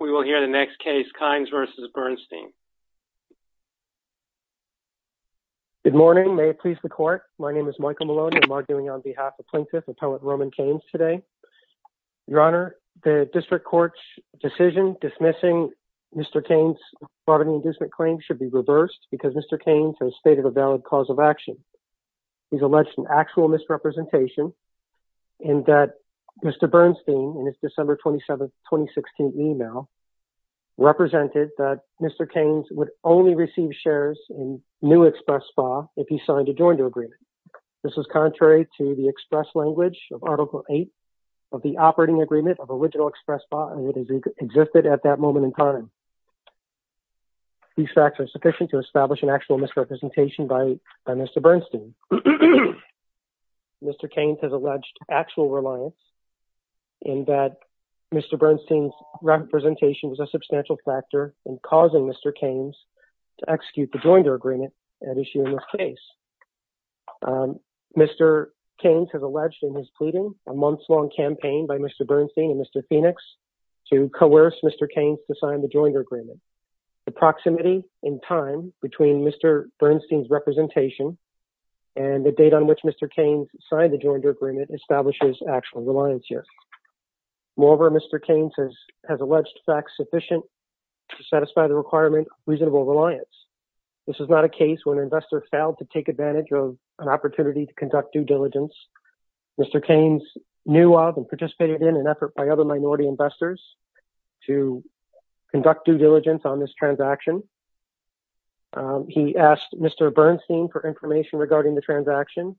We will hear the next case, Kainz v. Bernstein. Good morning, may it please the court. My name is Michael Malone and I'm arguing on behalf of Plaintiff Appellate Roman Kainz today. Your Honor, the District Court's decision dismissing Mr. Kainz's fraud and inducement claim should be reversed because Mr. Kainz has stated a valid cause of fraud. Mr. Kainz's 2016 email represented that Mr. Kainz would only receive shares in new express BA if he signed a joint agreement. This is contrary to the express language of Article 8 of the operating agreement of original express BA and it has existed at that moment in time. These facts are sufficient to establish an actual misrepresentation by Mr. Bernstein. Mr. Kainz has alleged actual reliance in that Mr. Bernstein's representation was a substantial factor in causing Mr. Kainz to execute the joinder agreement at issue in this case. Mr. Kainz has alleged in his pleading a months-long campaign by Mr. Bernstein and Mr. Phoenix to coerce Mr. Kainz to sign the joinder agreement. The proximity in time between Mr. Bernstein's representation and the date on which Mr. Kainz signed the joinder agreement establishes actual reliance here. Moreover, Mr. Kainz has alleged facts sufficient to satisfy the requirement of reasonable reliance. This is not a case where an investor failed to take advantage of an opportunity to conduct due diligence. Mr. Kainz knew of and participated in an effort by other minority investors to conduct due diligence on this transaction. He asked Mr. Bernstein for information regarding the transaction.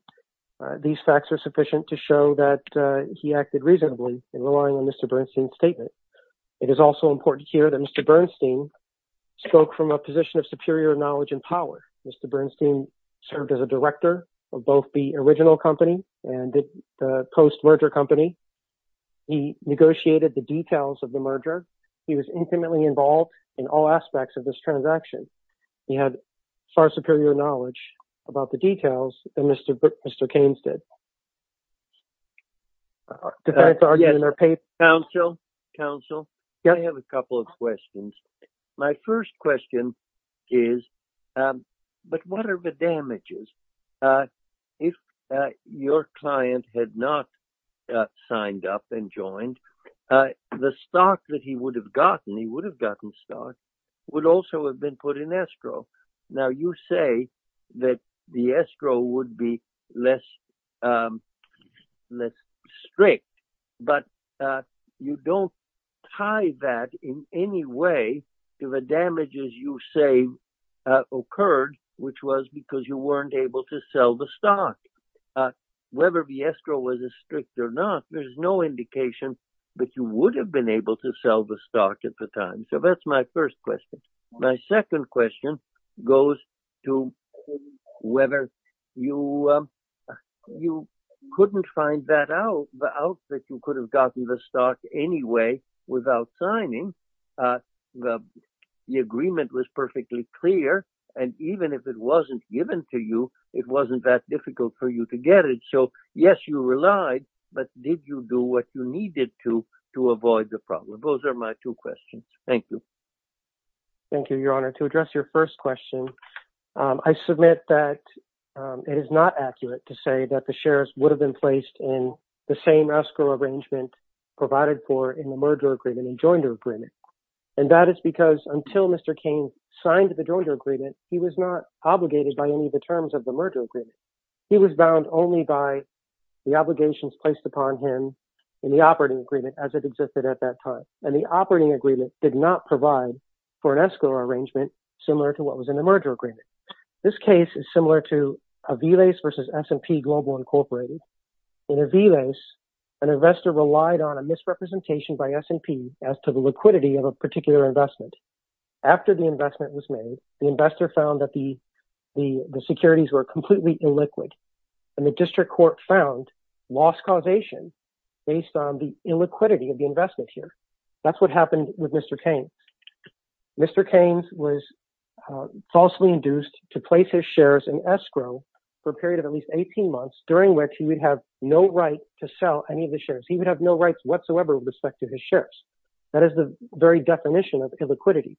These facts are sufficient to show that he acted reasonably in relying on Mr. Bernstein's statement. It is also important here that Mr. Bernstein spoke from a position of superior knowledge and power. Mr. Bernstein served as a director of both the original company and the post-merger company. He negotiated the transaction. He had far superior knowledge about the details than Mr. Kainz did. Counsel, I have a couple of questions. My first question is, but what are the damages? If your client had not signed up and joined, the stock that he would have gotten, he would have been put in estro. Now you say that the estro would be less strict, but you don't tie that in any way to the damages you say occurred, which was because you weren't able to sell the stock. Whether the estro was as strict or not, there's no indication that you would have been able to sell the stock. My second question goes to whether you couldn't find that out, the out that you could have gotten the stock anyway without signing. The agreement was perfectly clear and even if it wasn't given to you, it wasn't that difficult for you to get it. So yes, you relied, but did you do what you needed to to avoid the problem? Those are my two questions. Thank you. Thank you, Your Honor. To address your first question, I submit that it is not accurate to say that the shares would have been placed in the same escrow arrangement provided for in the merger agreement and joinder agreement. And that is because until Mr. Kainz signed the joinder agreement, he was not obligated by any of the terms of the merger agreement. He was bound only by the obligations placed upon him in the operating agreement as it existed at that time. And the for an escrow arrangement similar to what was in the merger agreement. This case is similar to a V-LACE versus S&P Global Incorporated. In a V-LACE, an investor relied on a misrepresentation by S&P as to the liquidity of a particular investment. After the investment was made, the investor found that the securities were completely illiquid and the district court found loss causation based on the illiquidity of the investment here. That's what happened with Mr. Kainz. Mr. Kainz was falsely induced to place his shares in escrow for a period of at least 18 months during which he would have no right to sell any of the shares. He would have no rights whatsoever with respect to his shares. That is the very definition of illiquidity.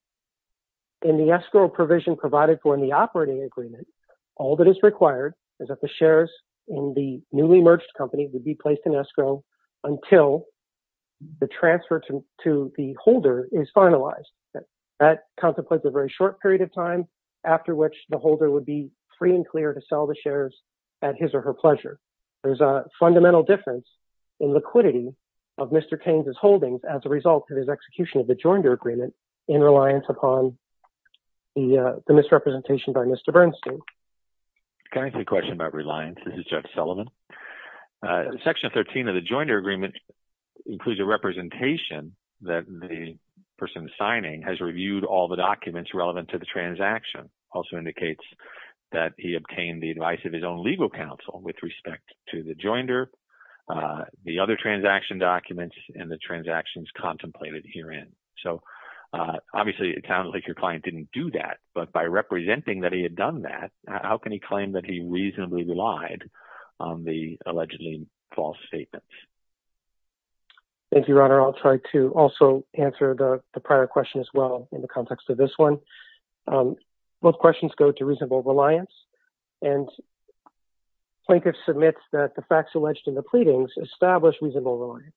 In the escrow provision provided for in the operating agreement, all that is required is that the shares in the newly merged company would be placed in escrow until the transfer to the holder is finalized. That contemplates a very short period of time after which the holder would be free and clear to sell the shares at his or her pleasure. There's a fundamental difference in liquidity of Mr. Kainz's holdings as a result of his execution of the joinder agreement in reliance upon the misrepresentation by Mr. Bernstein. Can I ask you a question about reliance? This is Jeff Sullivan. Section 13 of the person signing has reviewed all the documents relevant to the transaction. It also indicates that he obtained the advice of his own legal counsel with respect to the joinder, the other transaction documents, and the transactions contemplated herein. Obviously, it sounds like your client didn't do that, but by representing that he had done that, how can he claim that he reasonably relied on the allegedly false statements? Thank you, Your Honor. I'll try to also answer the prior question as well in the context of this one. Both questions go to reasonable reliance. Plaintiff submits that the facts alleged in the pleadings established reasonable reliance.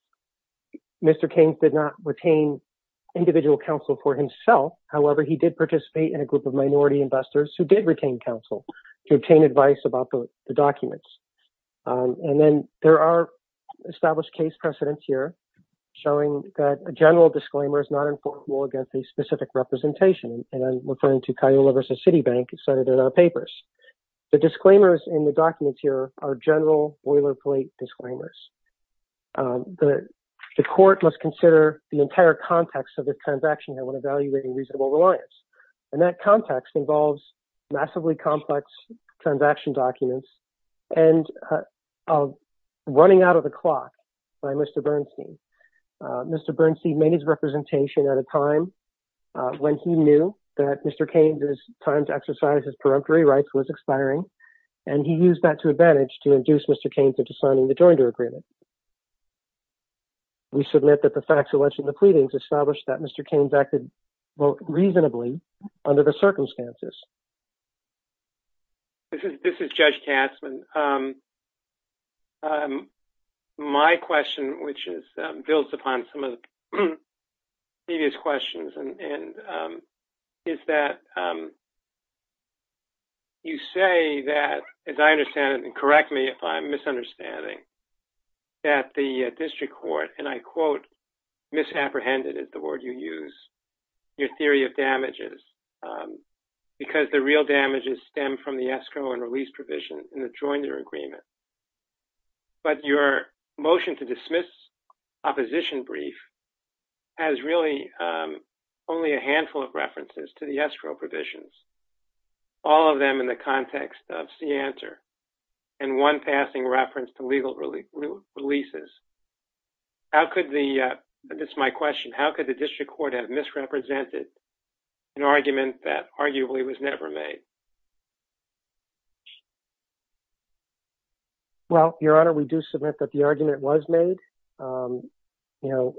Mr. Kainz did not retain individual counsel for himself. However, he did participate in a group of minority investors who did retain counsel to obtain advice about the documents. And then there are established case precedents here showing that a general disclaimer is not enforceable against a specific representation. And I'm referring to Cayola versus Citibank cited in our papers. The disclaimers in the documents here are general boilerplate disclaimers. The court must consider the entire context of the transaction when evaluating reasonable reliance. And that context involves massively complex transaction documents and running out of the clock by Mr. Bernstein. Mr. Bernstein made his representation at a time when he knew that Mr. Kainz's time to exercise his peremptory rights was expiring. And he used that to advantage to induce Mr. Kainz into signing the joinder agreement. We submit that the facts alleged in the pleadings established that Mr. Kainz acted reasonably under the circumstances. This is Judge Katzman. My question, which is built upon some of the previous questions and is that you say that, as I understand it, and correct me if I'm misunderstanding, that the district court, and I quote, misapprehended it, the word you use, your theory of damages, because the real damages stem from the escrow and release provision in the joinder agreement. But your motion to dismiss opposition brief has really only a handful of references to the escrow provisions, all of them in the context of Seantor, and one passing reference to legal releases. How could the, this is my question, how could the district court have misrepresented an argument that arguably was never made? Well, Your Honor, we do submit that the argument was made. You know,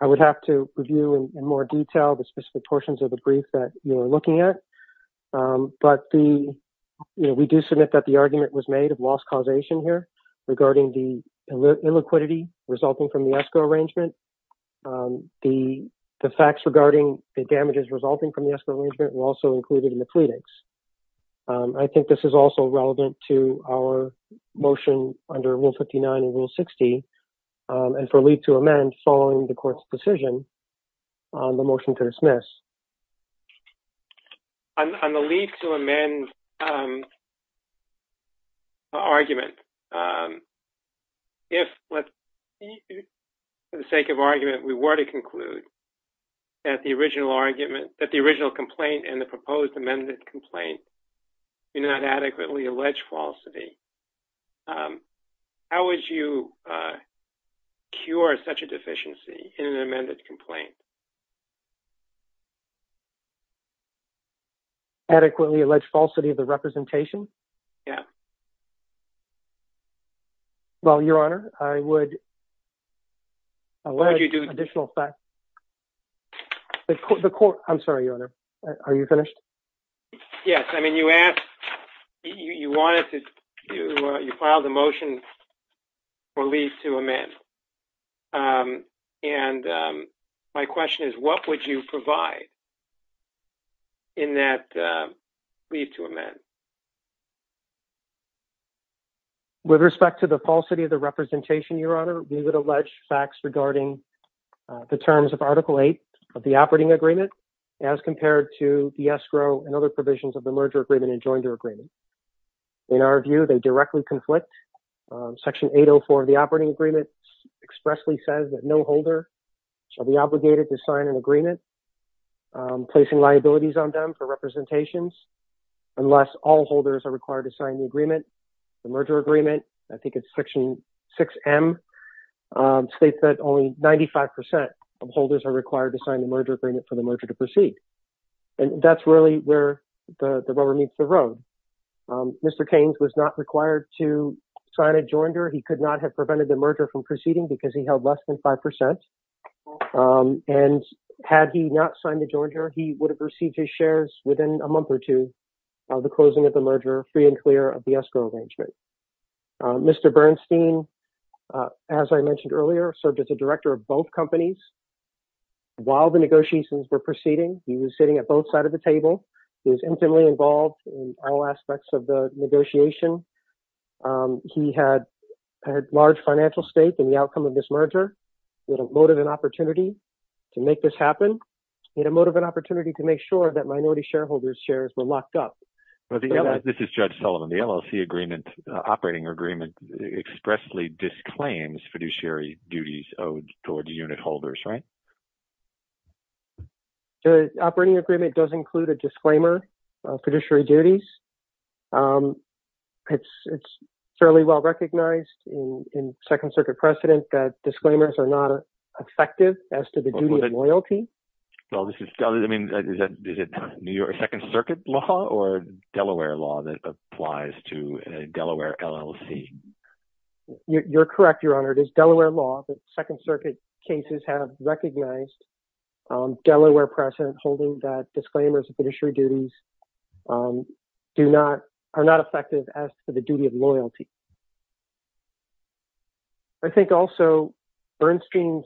I would have to review in more detail the specific portions of the brief that you're looking at, but we do submit that the argument was made of loss causation here regarding the illiquidity resulting from the escrow arrangement. The facts regarding the damages resulting from the escrow arrangement were also included in the pleadings. I think this is also relevant to our motion under Rule 59 and Rule 60, and for leave to amend following the court's decision on the motion to dismiss. On the leave to amend argument, if, for the sake of argument, we were to conclude that the original argument, that the original complaint and the proposed amended complaint do not adequately allege falsity, how would you cure such a deficiency in an amended complaint? Adequately allege falsity of the representation? Yeah. Well, Your Honor, I would. What would you do? Additional facts. The court, I'm sorry, Your Honor, are you finished? Yes. I mean, you asked, you wanted to, you filed a motion for leave to amend, and my question is, what would you provide in that leave to amend? With respect to the falsity of the representation, Your Honor, we would allege facts regarding the terms of Article 8 of the operating agreement as compared to the escrow and other provisions of the merger agreement and joinder agreement. In our view, they directly conflict. Section 804 of the operating agreement expressly says that no holder shall be obligated to sign an agreement placing liabilities on them for representations unless all holders are required to sign the merger agreement. I think it's Section 6M states that only 95 percent of holders are required to sign the merger agreement for the merger to proceed, and that's really where the rubber meets the road. Mr. Keynes was not required to sign a joinder. He could not have prevented the merger from proceeding because he held less than 5 percent, and had he not signed the joinder, he would have received his shares within a month or two of the closing of the merger, free and clear of the escrow arrangement. Mr. Bernstein, as I mentioned earlier, served as a director of both companies. While the negotiations were proceeding, he was sitting at both sides of the table. He was intimately involved in all aspects of the negotiation. He had a large financial stake in the outcome of this merger. He had a motive and opportunity to make this happen. He had a motive and opportunity to make sure that minority shareholders' shares were locked up. This is Judge Sullivan. The LLC agreement, operating agreement, expressly disclaims fiduciary duties owed towards unit holders, right? The operating agreement does include a disclaimer of fiduciary duties. It's fairly well recognized in Second Circuit precedent that disclaimers are not effective as to the duty of loyalty. Well, is it New York Second Circuit law or Delaware law that applies to a Delaware LLC? You're correct, Your Honor. It is Delaware law, but Second Circuit cases have recognized Delaware precedent holding that disclaimers of fiduciary duties are not effective as to the duty of loyalty. I think also Bernstein's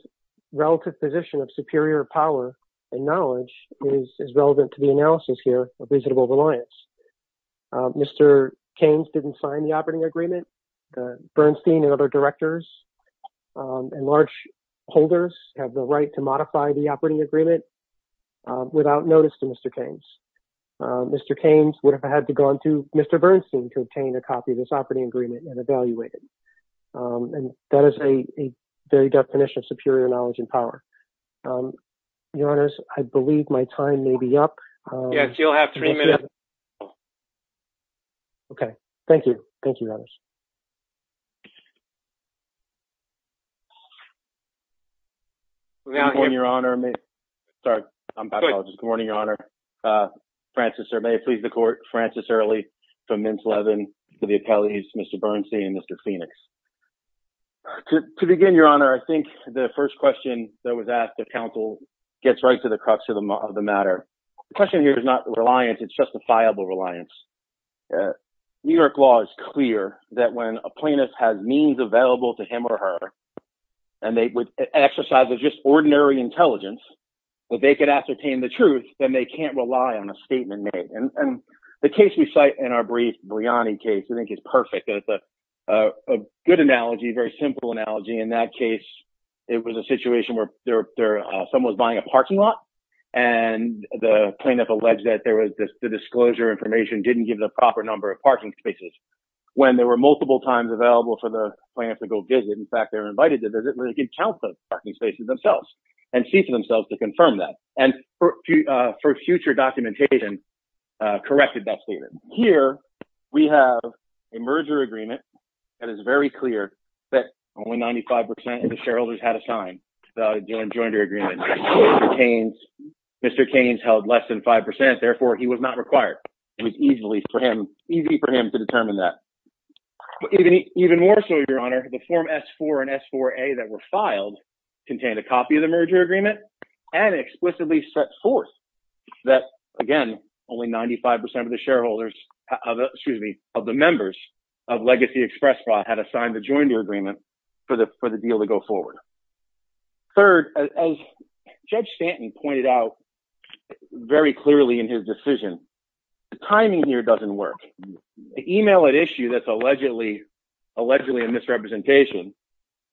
relative position of superior power and knowledge is relevant to the analysis here of reasonable reliance. Mr. Keynes didn't sign the operating agreement. Bernstein and other directors and large holders have the right to modify the operating agreement without notice to Mr. Keynes. Mr. Keynes would have had to go on to Mr. Bernstein to obtain a copy of this agreement and evaluate it. That is a very definition of superior knowledge and power. Your Honors, I believe my time may be up. Yes, you'll have three minutes. Okay. Thank you. Thank you, Your Honors. Good morning, Your Honor. Sorry, I'm apologizing. Good morning, Your Honor. Francis, may it please the court, Francis Early from Mintz Levin, to the appellees, Mr. Bernstein and Mr. Phoenix. To begin, Your Honor, I think the first question that was asked of counsel gets right to the crux of the matter. The question here is not reliance, it's justifiable reliance. New York law is clear that when a plaintiff has means available to him or her, and they would exercise just ordinary intelligence, that they could ascertain the on a statement made. The case we cite in our brief, Briani case, I think is perfect. It's a good analogy, a very simple analogy. In that case, it was a situation where someone was buying a parking lot, and the plaintiff alleged that the disclosure information didn't give the proper number of parking spaces. When there were multiple times available for the plaintiff to go visit, in fact, they were invited to visit where they could count those parking spaces themselves and see for themselves to confirm that, and for future documentation, corrected that statement. Here, we have a merger agreement that is very clear that only 95% of the shareholders had a sign, the jointer agreement. Mr. Keynes held less than 5%, therefore, he was not required. It was easy for him to determine that. Even more so, Your Honor, the Form S-4 and S-4A that were in the merger agreement, and explicitly set forth that, again, only 95% of the shareholders, excuse me, of the members of Legacy Express Fraud had assigned the jointer agreement for the deal to go forward. Third, as Judge Stanton pointed out very clearly in his decision, the timing here doesn't work. The email at issue that's allegedly a misrepresentation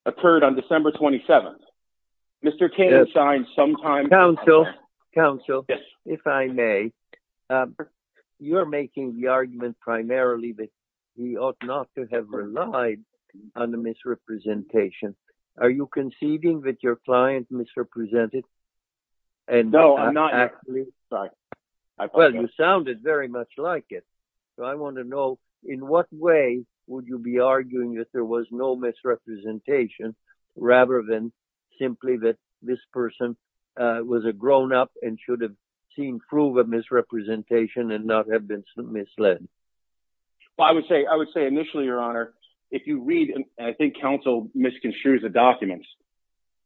occurred on December 27th. Mr. Keynes signed sometime... Counsel, counsel, if I may, you're making the argument primarily that he ought not to have relied on the misrepresentation. Are you conceiving that your client misrepresented? No, I'm not. Well, you sounded very much like it. So, I want to know, in what way would you be arguing that there was no misrepresentation, rather than simply that this person was a grown-up and should have seen proof of misrepresentation and not have been misled? I would say, initially, Your Honor, if you read, and I think counsel misconstrued the documents,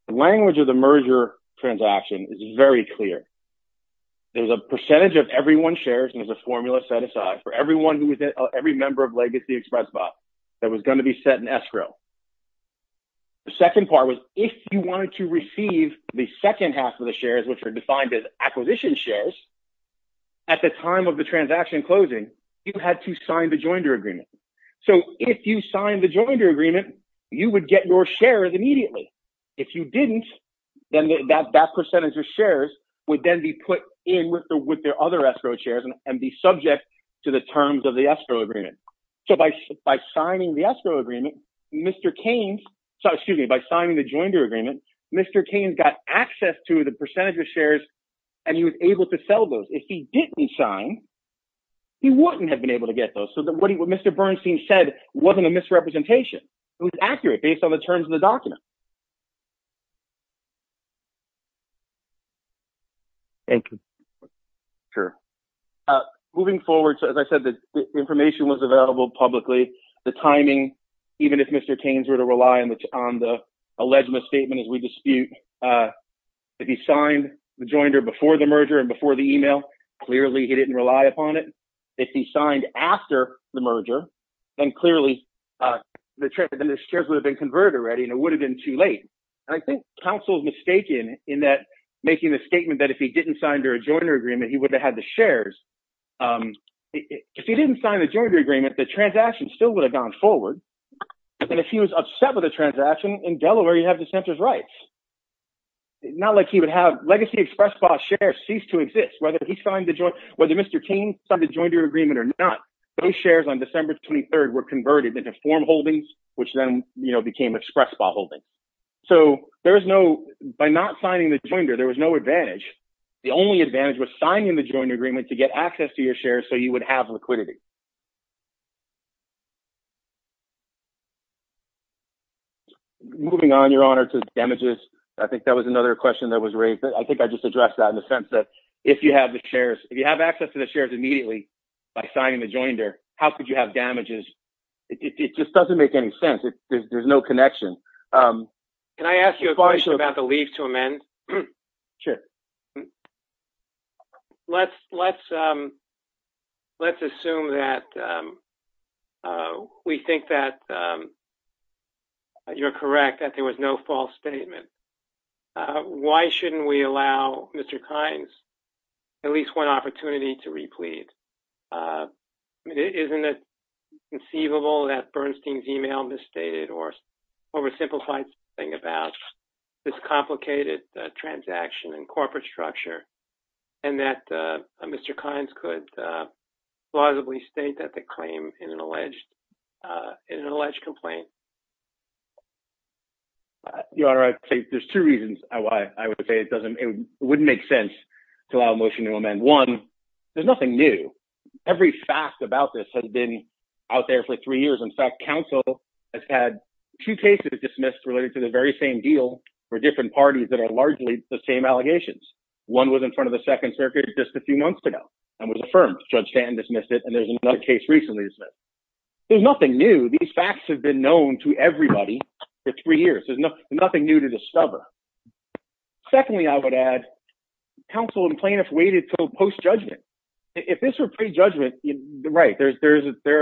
the language of the merger transaction is very clear. There's a percentage of everyone's shares, and there's a formula set aside for everyone who was in every member of Legacy Express Fraud that was going to be set in escrow. The second part was, if you wanted to receive the second half of the shares, which are defined as acquisition shares, at the time of the transaction closing, you had to sign the joinder agreement. So, if you signed the joinder agreement, you would get your shares immediately. If you didn't, then that percentage of shares would then be put in with their other escrow shares and be subject to the terms of the escrow agreement. So, by signing the escrow agreement, Mr. Keynes, excuse me, by signing the joinder agreement, Mr. Keynes got access to the percentage of shares and he was able to sell those. If he didn't sign, he wouldn't have been able to get those. So, what Mr. Bernstein said wasn't a misrepresentation. It was accurate based on the terms of the document. Thank you. Sure. Moving forward, as I said, the information was available publicly. The timing, even if Mr. Keynes were to rely on the alleged misstatement as we dispute, if he signed the joinder before the merger and before the email, clearly he didn't rely upon it. If he signed after the merger, then clearly the shares would have been converted already and it would have been too late. I think counsel's mistaken in making the statement that if he didn't sign the joinder agreement, he would have had the shares. If he didn't sign the joinder agreement, the transaction still would have gone forward. And if he was upset with the transaction, in Delaware, you have the center's rights. Not like he would have legacy ExpressBot shares cease to exist. Whether Mr. Keynes signed the joinder agreement or not, those shares on So there's no, by not signing the joinder, there was no advantage. The only advantage was signing the joint agreement to get access to your shares. So you would have liquidity. Moving on your honor to damages. I think that was another question that was raised. I think I just addressed that in the sense that if you have the shares, if you have access to the shares immediately by signing the joinder, how could you have damages? It just doesn't make any sense. There's no connection. Can I ask you a question about the leave to amend? Sure. Let's assume that we think that you're correct, that there was no false statement. Why shouldn't we allow Mr. Keynes at least one opportunity to replete? I mean, isn't it conceivable that Bernstein's email misstated or oversimplified thing about this complicated transaction and corporate structure and that Mr. Keynes could plausibly state that the claim in an alleged complaint? Your honor, I think there's two reasons why I would say it doesn't, it wouldn't make sense to allow motion to amend. One, there's nothing new. Every fact about this has been out there for three years. In fact, counsel has had two cases dismissed related to the very same deal for different parties that are largely the same allegations. One was in front of the second circuit just a few months ago and was affirmed. Judge Stanton dismissed it and there's another case recently dismissed. There's nothing new. These facts have been known to everybody for three years. There's nothing new to discover. Secondly, I would add, counsel and plaintiff waited until post-judgment. If this were pre-judgment, right, there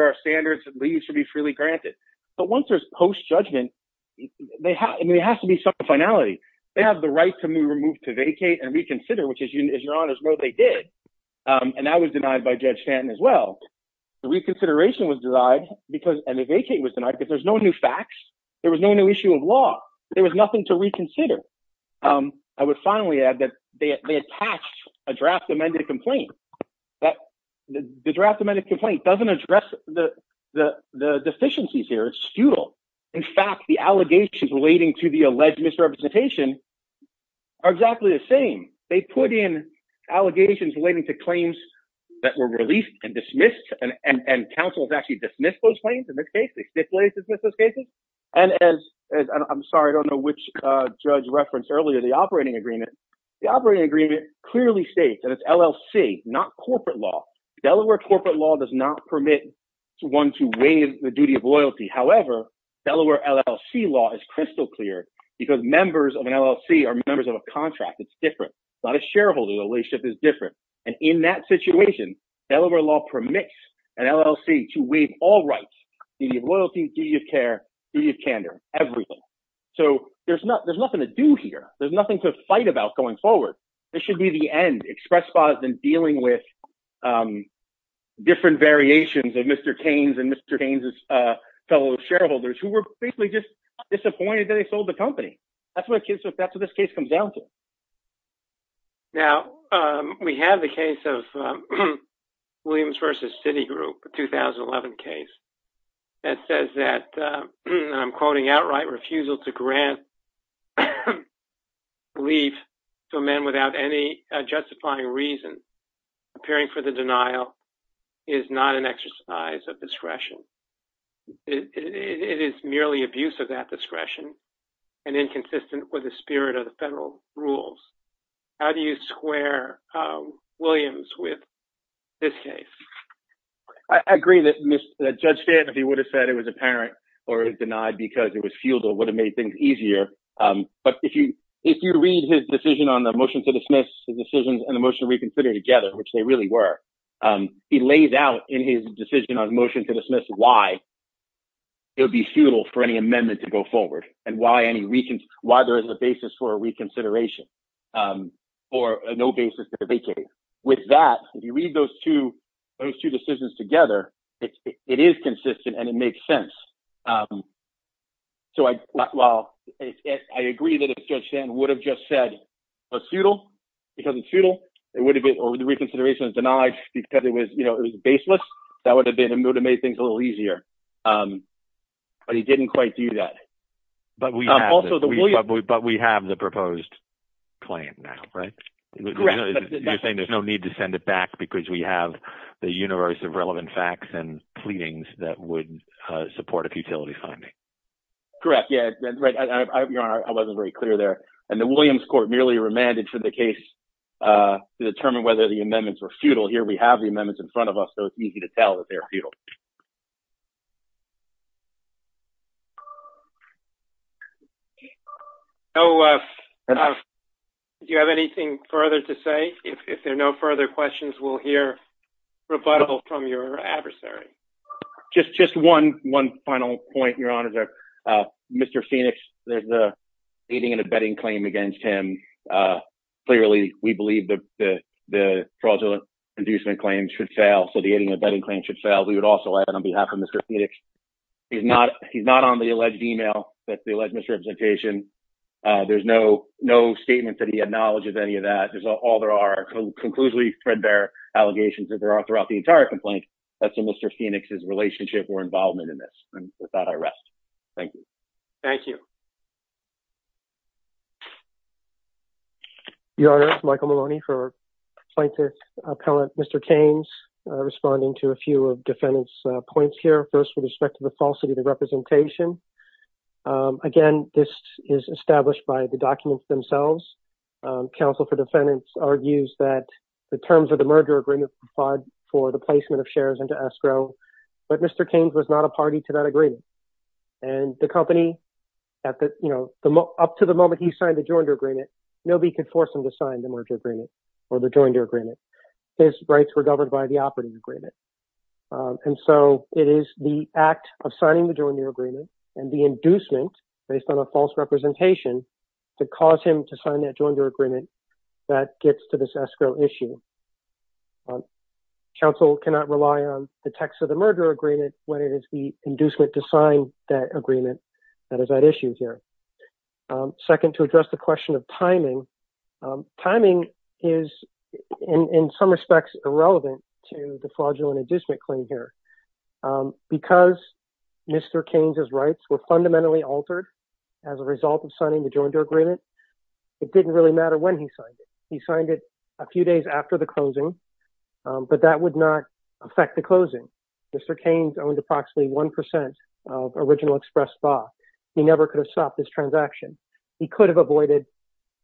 are standards that should be freely granted. But once there's post-judgment, I mean, it has to be some finality. They have the right to move, remove, to vacate, and reconsider, which as your honors know, they did. And that was denied by Judge Stanton as well. The reconsideration was denied and the vacate was denied because there's no new facts. There was no new issue of law. There was nothing to reconsider. I would finally add that they attached a draft amended complaint. The draft amended complaint doesn't address the deficiencies here. It's futile. In fact, the allegations relating to the alleged misrepresentation are exactly the same. They put in allegations relating to claims that were released and dismissed. And counsel has actually dismissed those claims in this case. They stipulated to dismiss those cases. And as, I'm sorry, I don't know which judge referenced earlier, the operating agreement. The operating agreement clearly states that it's LLC, not corporate law. Delaware corporate law does not permit one to waive the duty of loyalty. However, Delaware LLC law is crystal clear because members of an LLC are members of a contract. It's different. It's not a shareholder relationship. It's different. And in that situation, Delaware law permits an LLC to waive all rights, duty of loyalty, duty of care, duty of candor, everything. So there's nothing to do here. There's nothing to fight about going forward. This should be the end, express pause in dealing with different variations of Mr. Kane's and Mr. Kane's fellow shareholders who were basically just disappointed that they sold the company. That's what this case comes down to. Now, we have the case of Williams versus Citigroup, a 2011 case that says that, and I'm quoting outright refusal to grant leave to a man without any justifying reason, appearing for the denial is not an exercise of discretion. It is merely abuse of that discretion and inconsistent with the spirit of the federal rules. How do you square Williams with this case? I agree that Judge Stanton, if he would have said it was apparent or denied because it was futile, would have made things easier. But if you read his decision on the motion to dismiss the decisions and the motion reconsider together, which they really were, he lays out in his decision on motion to dismiss why it would be futile for any amendment to go forward and why there is a basis for a reconsideration or no basis to vacate. With that, if you read those two decisions together, it is consistent and it makes sense. I agree that if Judge Stanton would have just said it was futile because it's futile or the reconsideration is denied because it was baseless, that would have made things a little easier. But he didn't quite do that. But we have the proposed claim now, right? You're saying there's no need to send it back because we have the universe of relevant facts and pleadings that would support a futility finding. Correct. Yeah, right. I wasn't very clear there. And the Williams court merely remanded for the case to determine whether the amendments were futile. Here we have the amendments in front of us, so it's easy to tell that they're futile. Do you have anything further to say? If there are no further questions, we'll hear rebuttal from your adversary. Just one final point, Your Honor. Mr. Phoenix, there's an aiding and abetting claim against him. Clearly, we believe that the fraudulent inducement claim should fail, so the aiding and abetting claim should fail. We would also add on behalf of Mr. Phoenix, he's not on the alleged email, that's the alleged misrepresentation. There's no statement that he acknowledges any of that. There's all there are conclusively threadbare allegations that there are throughout the entire Mr. Phoenix's relationship or involvement in this. With that, I rest. Thank you. Thank you. Your Honor, Michael Maloney for plaintiff's appellant, Mr. Keynes, responding to a few of defendant's points here. First, with respect to the falsity of the representation. Again, this is established by the documents themselves. Counsel for defendants argues that the terms of the merger agreement provide for the placement of shares into escrow, but Mr. Keynes was not a party to that agreement. The company, up to the moment he signed the joinder agreement, nobody could force him to sign the merger agreement or the joinder agreement. His rights were governed by the operating agreement. It is the act of signing the joinder agreement and the inducement based on a false representation to cause him to sign the joinder agreement that gets to this escrow issue. Counsel cannot rely on the text of the merger agreement when it is the inducement to sign that agreement that is at issue here. Second, to address the question of timing, timing is in some respects irrelevant to the fraudulent inducement claim here. Because Mr. Keynes' rights were fundamentally altered as a result of signing the joinder agreement, it didn't really matter when he signed it. He signed it a few days after the closing, but that would not affect the closing. Mr. Keynes owned approximately 1% of Original Express Vaughn. He never could have stopped this transaction. He could have avoided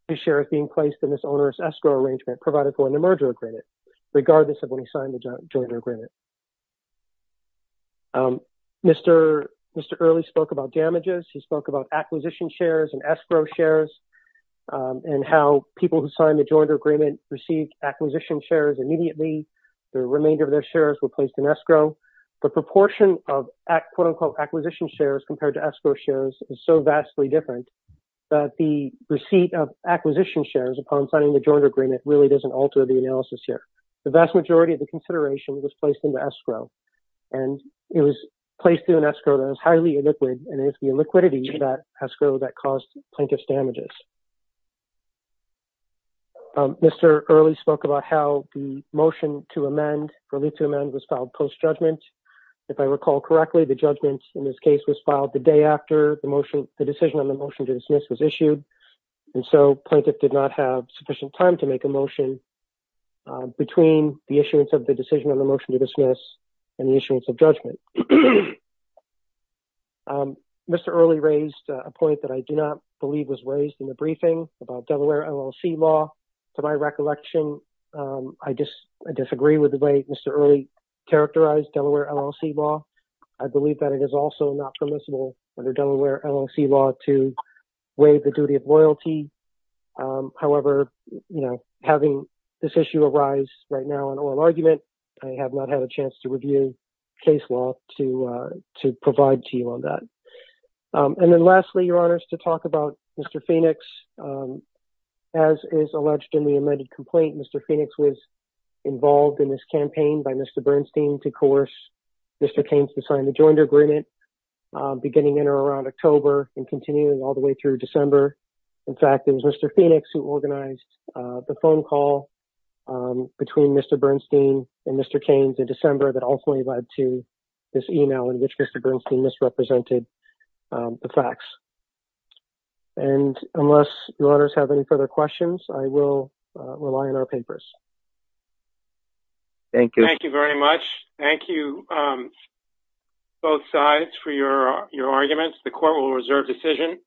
his shares being placed in this onerous escrow arrangement provided for in the merger agreement, regardless of when he signed the joinder agreement. Mr. Earley spoke about damages. He spoke about acquisition shares and escrow shares and how people who signed the joinder agreement received acquisition shares immediately. The remainder of their shares were placed in escrow. The proportion of quote-unquote acquisition shares compared to escrow shares is so vastly different that the receipt of acquisition shares upon signing the joinder agreement really doesn't alter the analysis here. The vast majority of the consideration was placed into escrow. And it was placed in an escrow that was highly illiquid, and it was the illiquidity of that escrow that caused plaintiff's damages. Mr. Earley spoke about how the motion to amend, or leave to amend, was filed post-judgment. If I recall correctly, the judgment in this case was filed the day after the decision on the motion to dismiss was issued, and so plaintiff did not have sufficient time to make a motion between the issuance of the decision on the motion to dismiss and the issuance of judgment. Mr. Earley raised a point that I do not believe was raised in the briefing about Delaware LLC law. To my recollection, I disagree with the way Mr. Earley characterized Delaware LLC law. I believe that it is also not permissible under Delaware LLC law to waive the duty of loyalty. However, having this issue arise right now in oral argument, I have not had a chance to review case law to provide to you on that. And then lastly, your honors, to talk about Mr. Phoenix. As is alleged in the amended complaint, Mr. Phoenix was involved in this campaign by Mr. Bernstein to coerce Mr. Keynes to sign the joint agreement beginning in or around October and continuing all the way through December. In fact, it was Mr. Phoenix who organized the phone call between Mr. Bernstein and Mr. Keynes in December that ultimately led to this email in which Mr. Bernstein misrepresented the facts. And unless your honors have any further questions, I will rely on our papers. Thank you. Thank you very much. Thank you, both sides, for your arguments. The court will reserve decision.